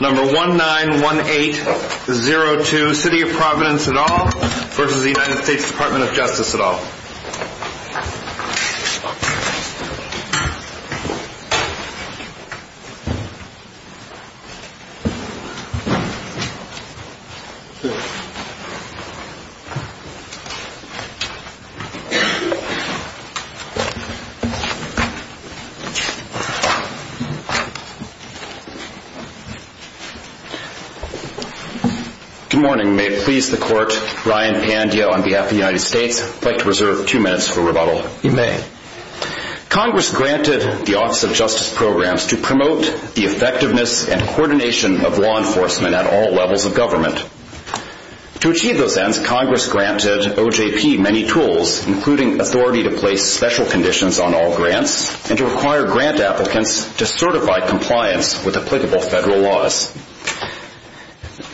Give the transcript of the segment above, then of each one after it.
Number 191802 City of Providence et al. v. US Department of Justice et al. Good morning. May it please the Court, Ryan Pandya on behalf of the United States. I'd like to reserve two minutes for rebuttal. You may. Congress granted the Office of Justice Programs to promote the effectiveness and coordination of law enforcement at all levels of government. To achieve those ends, Congress granted OJP many tools, including authority to place special conditions on all grants and to require grant applicants to certify compliance with applicable federal laws.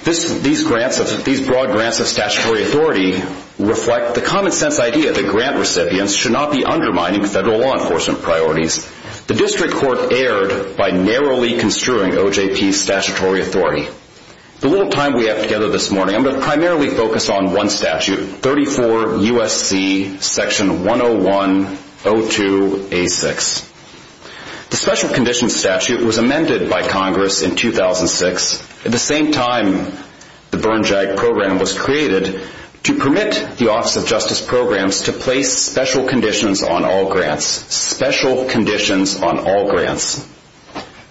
These broad grants of statutory authority reflect the common sense idea that grant recipients should not be undermining federal law enforcement priorities. The District Court erred by narrowly construing OJP's statutory authority. The little time we have together this morning, I'm going to primarily focus on one statute, 34 U.S.C. Section 101-02-A6. The Special Conditions Statute was amended by Congress in 2006, at the same time the Burn JAG Program was created, to permit the Office of Justice Programs to place special conditions on all grants. Special conditions on all grants.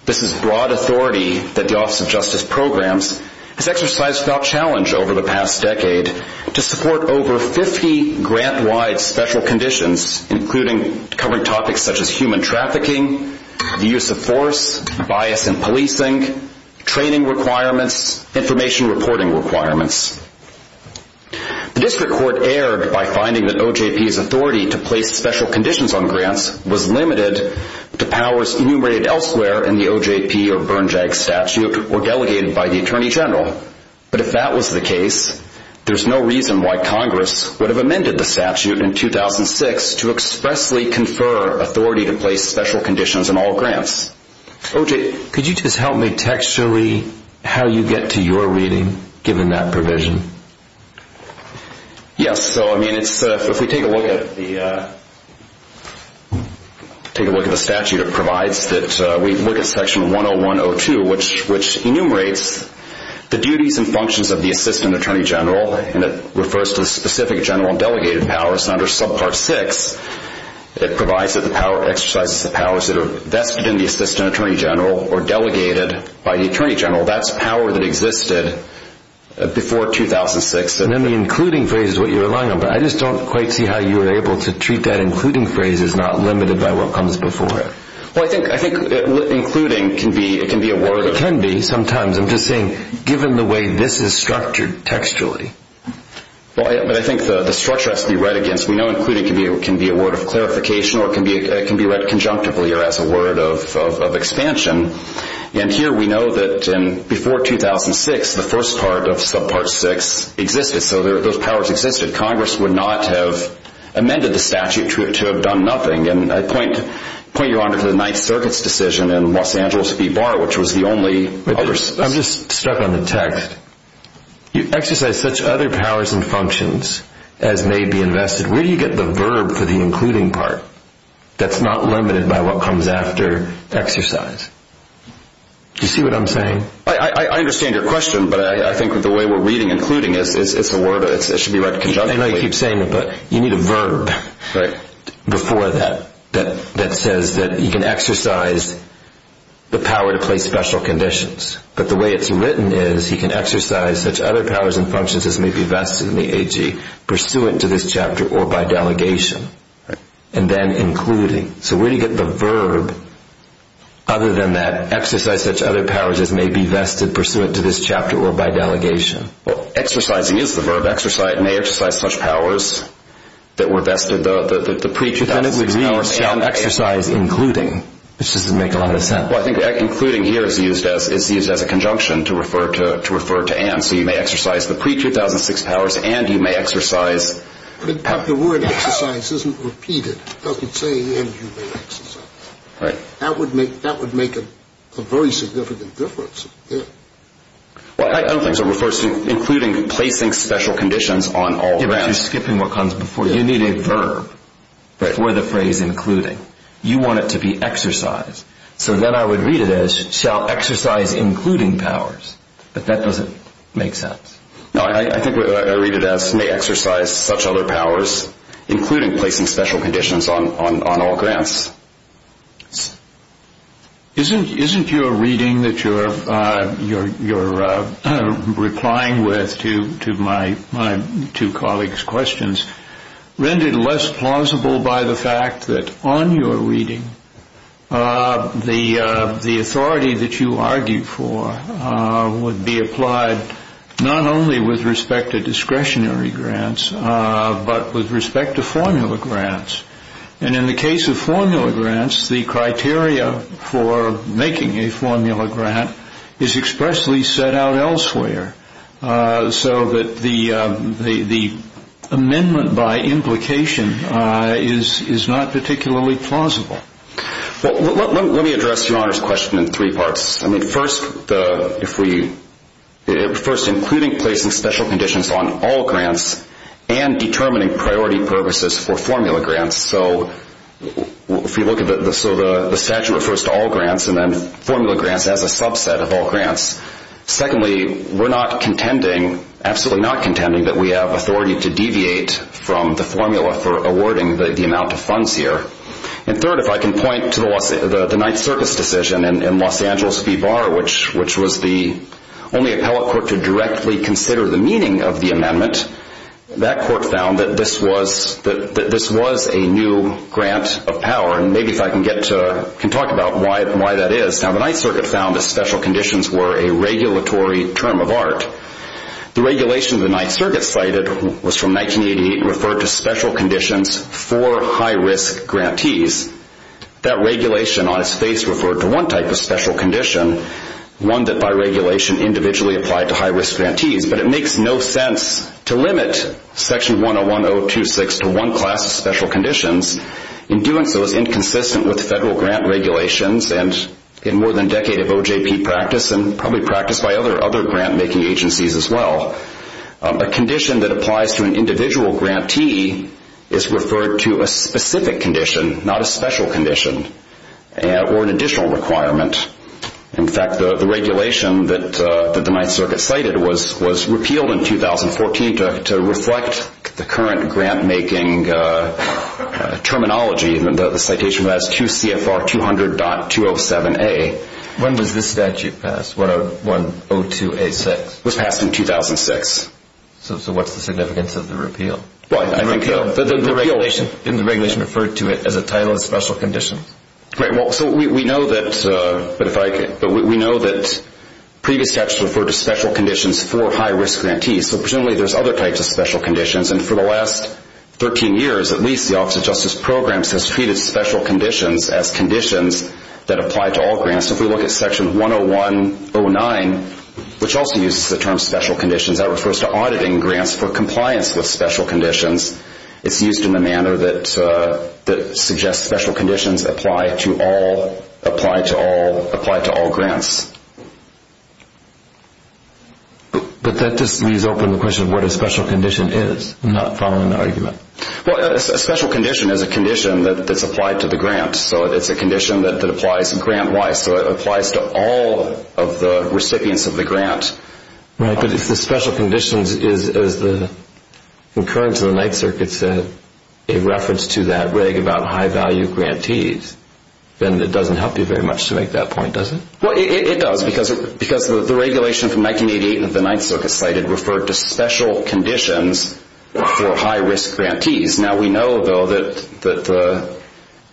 This is broad authority that the Office of Justice Programs has exercised without challenge over the past decade to support over 50 grant-wide special conditions, including covering topics such as human trafficking, the use of force, bias in policing, training requirements, information reporting requirements. The District Court erred by finding that OJP's authority to place special conditions on grants was limited to powers enumerated elsewhere in the OJP or Burn JAG statute or delegated by the Attorney General. But if that was the case, there's no reason why Congress would have amended the statute in 2006 to expressly confer authority to place special conditions on all grants. OJ, could you just help me texture-y how you get to your reading, given that provision? Yes. So, I mean, if we take a look at the statute, it provides that we look at Section 101-02, which enumerates the duties and functions of the Assistant Attorney General, and it refers to the specific general and delegated powers under Subpart 6. It provides that the power exercises the powers that are vested in the Assistant Attorney General or delegated by the Attorney General. That's power that existed before 2006. And then the including phrase is what you're relying on, but I just don't quite see how you were able to treat that including phrase as not limited by what comes before it. Well, I think including can be a word. It can be sometimes. I'm just saying, given the way this is structured textually. Well, I think the structure has to be read against. We know including can be a word of clarification or it can be read conjunctively or as a word of expansion. And here we know that before 2006, the first part of Subpart 6 existed, so those powers existed. Congress would not have amended the statute to have done nothing. And I point Your Honor to the Ninth Circuit's decision in Los Angeles v. Barr, which was the only- I'm just stuck on the text. You exercise such other powers and functions as may be invested. Where do you get the verb for the including part that's not limited by what comes after exercise? Do you see what I'm saying? I understand your question, but I think the way we're reading including, it's a word. It should be read conjunctively. I know you keep saying it, but you need a verb before that, that says that you can exercise the power to place special conditions. But the way it's written is he can exercise such other powers and functions as may be vested in the AG, pursuant to this chapter or by delegation, and then including. So where do you get the verb other than that? Exercise such other powers as may be vested pursuant to this chapter or by delegation. Well, exercising is the verb, exercise. It may exercise such powers that were vested. But then it would read exercise including, which doesn't make a lot of sense. Well, I think including here is used as a conjunction to refer to Anne, so you may exercise the pre-2006 powers and you may exercise- But the word exercise isn't repeated. It doesn't say and you may exercise. Right. That would make a very significant difference here. Well, I don't think so. It refers to including placing special conditions on all grounds. You're skipping what comes before. You need a verb for the phrase including. You want it to be exercise. So then I would read it as shall exercise including powers. But that doesn't make sense. No, I think I read it as may exercise such other powers, including placing special conditions on all grounds. Isn't your reading that you're replying with to my two colleagues' questions rendered less plausible by the fact that on your reading, the authority that you argued for would be applied not only with respect to discretionary grants, but with respect to formula grants. And in the case of formula grants, the criteria for making a formula grant is expressly set out elsewhere, so that the amendment by implication is not particularly plausible. Well, let me address Your Honor's question in three parts. I mean, first, including placing special conditions on all grants and determining priority purposes for formula grants. So the statute refers to all grants, and then formula grants as a subset of all grants. Secondly, we're not contending, absolutely not contending, that we have authority to deviate from the formula for awarding the amount of funds here. And third, if I can point to the Ninth Circuit's decision in Los Angeles v. Barr, which was the only appellate court to directly consider the meaning of the amendment, that court found that this was a new grant of power. And maybe if I can talk about why that is. Now, the Ninth Circuit found that special conditions were a regulatory term of art. The regulation the Ninth Circuit cited was from 1988, and referred to special conditions for high-risk grantees. That regulation on its face referred to one type of special condition, one that by regulation individually applied to high-risk grantees. But it makes no sense to limit Section 101.026 to one class of special conditions. In doing so, it's inconsistent with federal grant regulations, and in more than a decade of OJP practice, and probably practice by other grant-making agencies as well. A condition that applies to an individual grantee is referred to a specific condition, not a special condition or an additional requirement. In fact, the regulation that the Ninth Circuit cited was repealed in 2014 to reflect the current grant-making terminology. The citation was QCFR 200.207A. When was this statute passed, 102A6? It was passed in 2006. So what's the significance of the repeal? Well, I think the regulation referred to it as a title of special condition. Right, well, so we know that previous statutes referred to special conditions for high-risk grantees. So presumably there's other types of special conditions. And for the last 13 years, at least, the Office of Justice Programs has treated special conditions as conditions that apply to all grants. If we look at Section 101.09, which also uses the term special conditions, that refers to auditing grants for compliance with special conditions. It's used in a manner that suggests special conditions apply to all grants. But that just leaves open the question of what a special condition is. I'm not following the argument. Well, a special condition is a condition that's applied to the grant. So it's a condition that applies grant-wise. So it applies to all of the recipients of the grant. Right, but if the special condition is the concurrence of the Ninth Circuit's reference to that reg about high-value grantees, then it doesn't help you very much to make that point, does it? Well, it does because the regulation from 1988 that the Ninth Circuit cited referred to special conditions for high-risk grantees. Now we know, though, that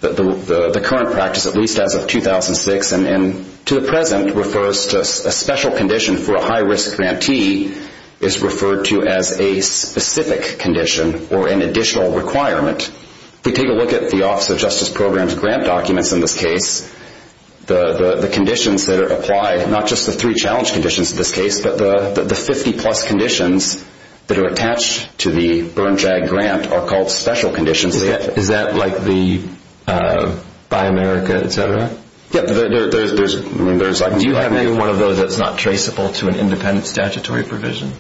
the current practice, at least as of 2006 and to the present, refers to a special condition for a high-risk grantee is referred to as a specific condition or an additional requirement. If we take a look at the Office of Justice Programs grant documents in this case, the conditions that are applied, not just the three challenge conditions in this case, but the 50-plus conditions that are attached to the Burn-Drag grant are called special conditions. Is that like the Buy America, et cetera? Yeah, there's like a number. Do you have any one of those that's not traceable to an independent statutory provision?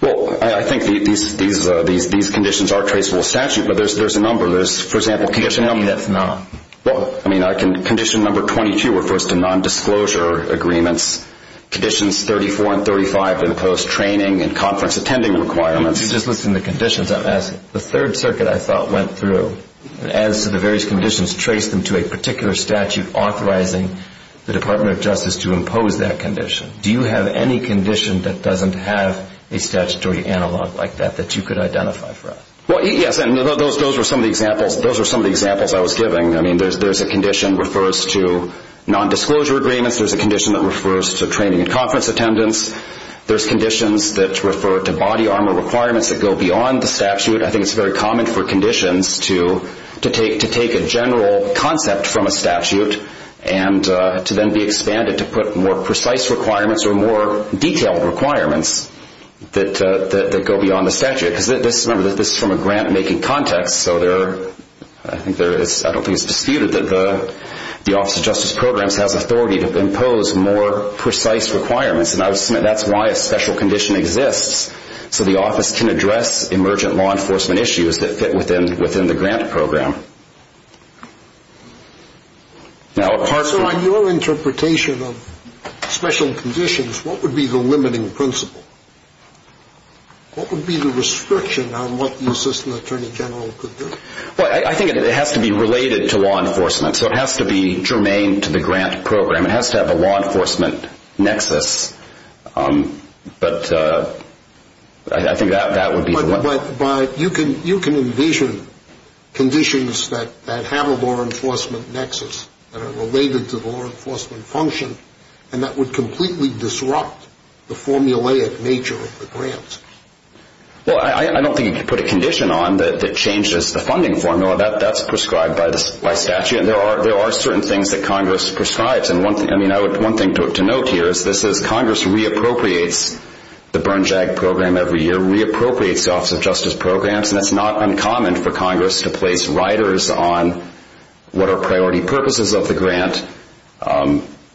Well, I think these conditions are traceable to statute, but there's a number. For example, can you just tell me that's not? Well, I mean, condition number 22 refers to nondisclosure agreements. Conditions 34 and 35 impose training and conference attending requirements. If you just listen to conditions, I'm asking. The Third Circuit, I thought, went through and as to the various conditions, traced them to a particular statute authorizing the Department of Justice to impose that condition. Do you have any condition that doesn't have a statutory analog like that that you could identify for us? Well, yes, and those are some of the examples I was giving. I mean, there's a condition that refers to nondisclosure agreements. There's a condition that refers to training and conference attendance. There's conditions that refer to body armor requirements that go beyond the statute. I think it's very common for conditions to take a general concept from a statute and to then be expanded to put more precise requirements or more detailed requirements that go beyond the statute. Remember, this is from a grant-making context, so I don't think it's disputed that the Office of Justice Programs has authority to impose more precise requirements, and I would submit that's why a special condition exists, so the office can address emergent law enforcement issues that fit within the grant program. So on your interpretation of special conditions, what would be the limiting principle? What would be the restriction on what the assistant attorney general could do? Well, I think it has to be related to law enforcement, so it has to be germane to the grant program. It has to have a law enforcement nexus, but I think that would be the one. But you can envision conditions that have a law enforcement nexus that are related to the law enforcement function and that would completely disrupt the formulaic nature of the grants. Well, I don't think you could put a condition on that changes the funding formula. That's prescribed by statute, and there are certain things that Congress prescribes, and one thing to note here is this is Congress reappropriates the Burn Jag program every year, reappropriates the Office of Justice Programs, and it's not uncommon for Congress to place riders on what are priority purposes of the grant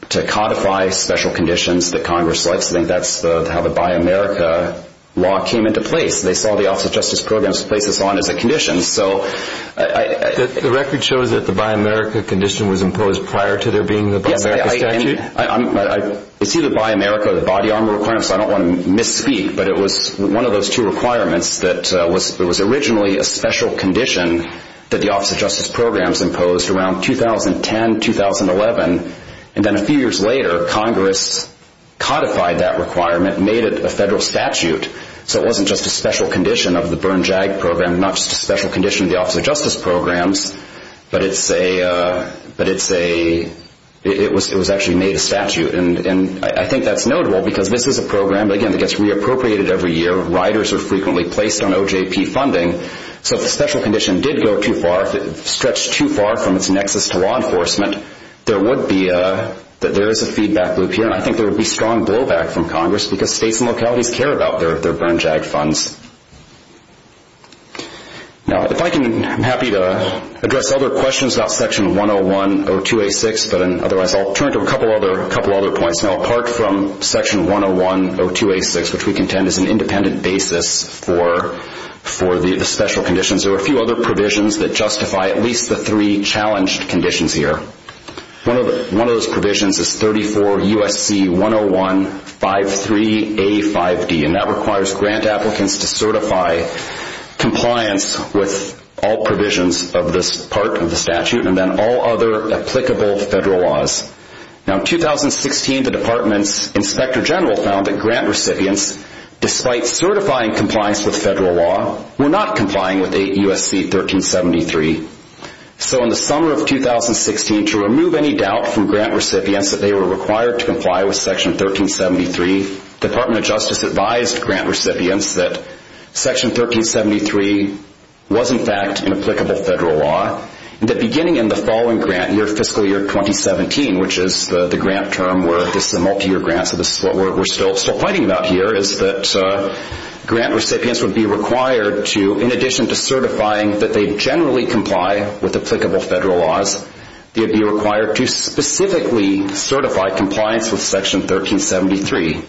to codify special conditions that Congress likes. I think that's how the Buy America law came into place. They saw the Office of Justice Programs to place us on as a condition. The record shows that the Buy America condition was imposed prior to there being the Buy America statute? Yes, I see the Buy America body armor requirements, so I don't want to misspeak, but it was one of those two requirements that was originally a special condition that the Office of Justice Programs imposed around 2010, 2011, and then a few years later Congress codified that requirement and made it a federal statute, so it wasn't just a special condition of the Burn Jag program, not just a special condition of the Office of Justice Programs, but it was actually made a statute, and I think that's notable because this is a program, again, that gets reappropriated every year. Riders are frequently placed on OJP funding, so if the special condition did stretch too far from its nexus to law enforcement, there is a feedback loop here, and I think there would be strong blowback from Congress because states and localities care about their Burn Jag funds. I'm happy to address other questions about Section 101-02-86, but otherwise I'll turn to a couple other points. Now apart from Section 101-02-86, which we contend is an independent basis for the special conditions, there are a few other provisions that justify at least the three challenged conditions here. One of those provisions is 34 U.S.C. 101-53-85D, and that requires grant applicants to certify compliance with all provisions of this part of the statute and then all other applicable federal laws. Now in 2016, the Department's Inspector General found that grant recipients, despite certifying compliance with federal law, were not complying with 8 U.S.C. 1373. So in the summer of 2016, to remove any doubt from grant recipients that they were required to comply with Section 1373, the Department of Justice advised grant recipients that Section 1373 was in fact an applicable federal law and that beginning in the following grant year, fiscal year 2017, which is the grant term where this is a multi-year grant, so this is what we're still fighting about here, is that grant recipients would be required to, in addition to certifying that they generally comply with applicable federal laws, they would be required to specifically certify compliance with Section 1373.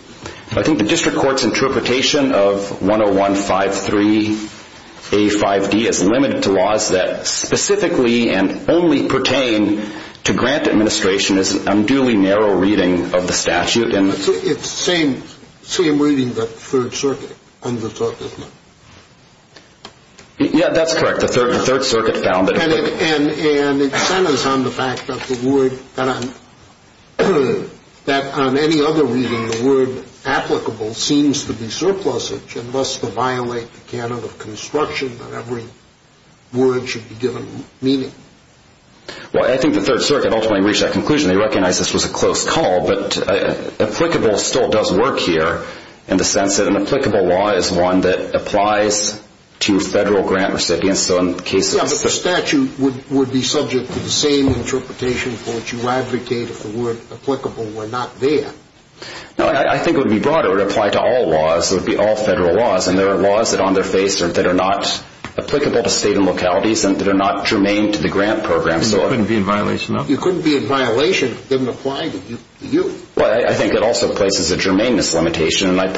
I think the district court's interpretation of 101-53-85D is limited to laws that specifically and only pertain to grant administration is an unduly narrow reading of the statute. It's the same reading that the Third Circuit undertook, isn't it? Yeah, that's correct. And it centers on the fact that on any other reading, the word applicable seems to be surplusage and thus to violate the canon of construction that every word should be given meaning. Well, I think the Third Circuit ultimately reached that conclusion. They recognized this was a close call, but applicable still does work here in the sense that an applicable law is one that applies to federal grant recipients. Yeah, but the statute would be subject to the same interpretation for which you advocate if the word applicable were not there. No, I think it would be broader. It would apply to all laws. It would be all federal laws, and there are laws that are on their face that are not applicable to state and localities and that are not germane to the grant program. And you couldn't be in violation of them? You couldn't be in violation if they didn't apply to you. Well, I think it also places a germaneness limitation. I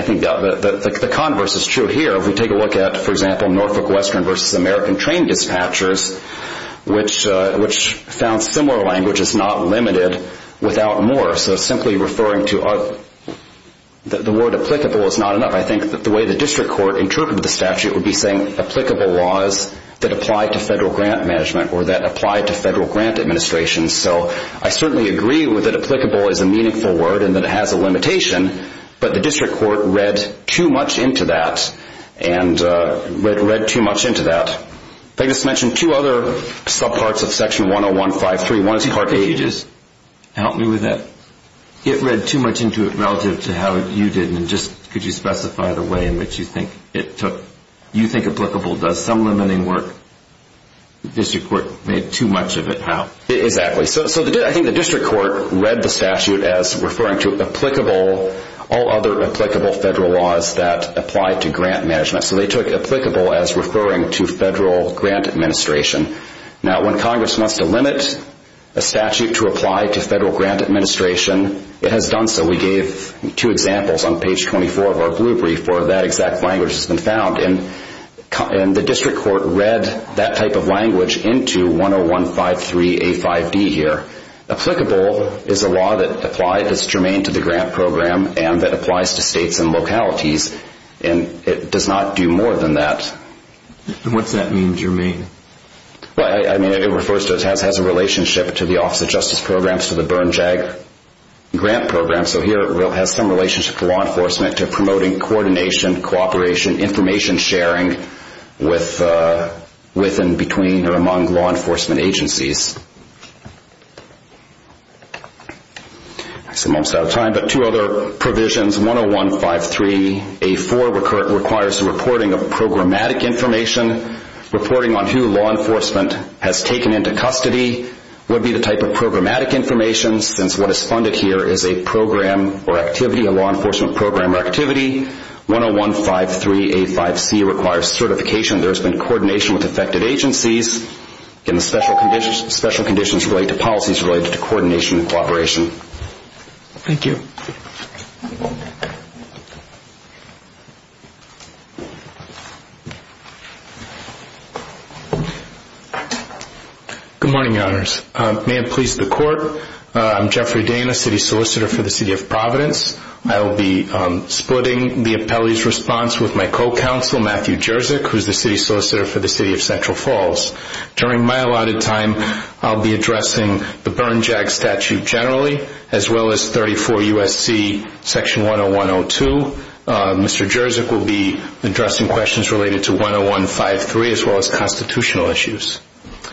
think the converse is true here. If we take a look at, for example, Norfolk Western v. American Train Dispatchers, which found similar language is not limited without more. So simply referring to the word applicable is not enough. I think the way the district court interpreted the statute would be saying that applicable laws that apply to federal grant management or that apply to federal grant administration. So I certainly agree that applicable is a meaningful word and that it has a limitation, but the district court read too much into that. They just mentioned two other subparts of Section 10153. One is part A. Help me with that. It read too much into it relative to how you did, and just could you specify the way in which you think it took, you think applicable does some limiting work? The district court made too much of it how? Exactly. So I think the district court read the statute as referring to applicable, all other applicable federal laws that apply to grant management. So they took applicable as referring to federal grant administration. Now, when Congress wants to limit a statute to apply to federal grant administration, it has done so. We gave two examples on page 24 of our blue brief where that exact language has been found, and the district court read that type of language into 10153A5D here. Applicable is a law that applies as germane to the grant program and that applies to states and localities, and it does not do more than that. What does that mean, germane? I mean, it has a relationship to the Office of Justice Programs, to the Bern JAG grant program. So here it has some relationship to law enforcement to promoting coordination, cooperation, information sharing with and between or among law enforcement agencies. I'm almost out of time, but two other provisions. 10153A4 requires the reporting of programmatic information. Reporting on who law enforcement has taken into custody would be the type of programmatic information since what is funded here is a program or activity, a law enforcement program or activity. 10153A5C requires certification. There has been coordination with affected agencies. Again, the special conditions relate to policies related to coordination and cooperation. Thank you. Good morning, Your Honors. May it please the Court, I'm Jeffrey Dain, a city solicitor for the City of Providence. I will be splitting the appellee's response with my co-counsel, Matthew Jerzyk, who is the city solicitor for the City of Central Falls. During my allotted time, I will be addressing the Bern JAG statute generally, as well as 34 U.S.C. section 101-02. Mr. Jerzyk will be addressing questions related to 10153 as well as constitutional issues.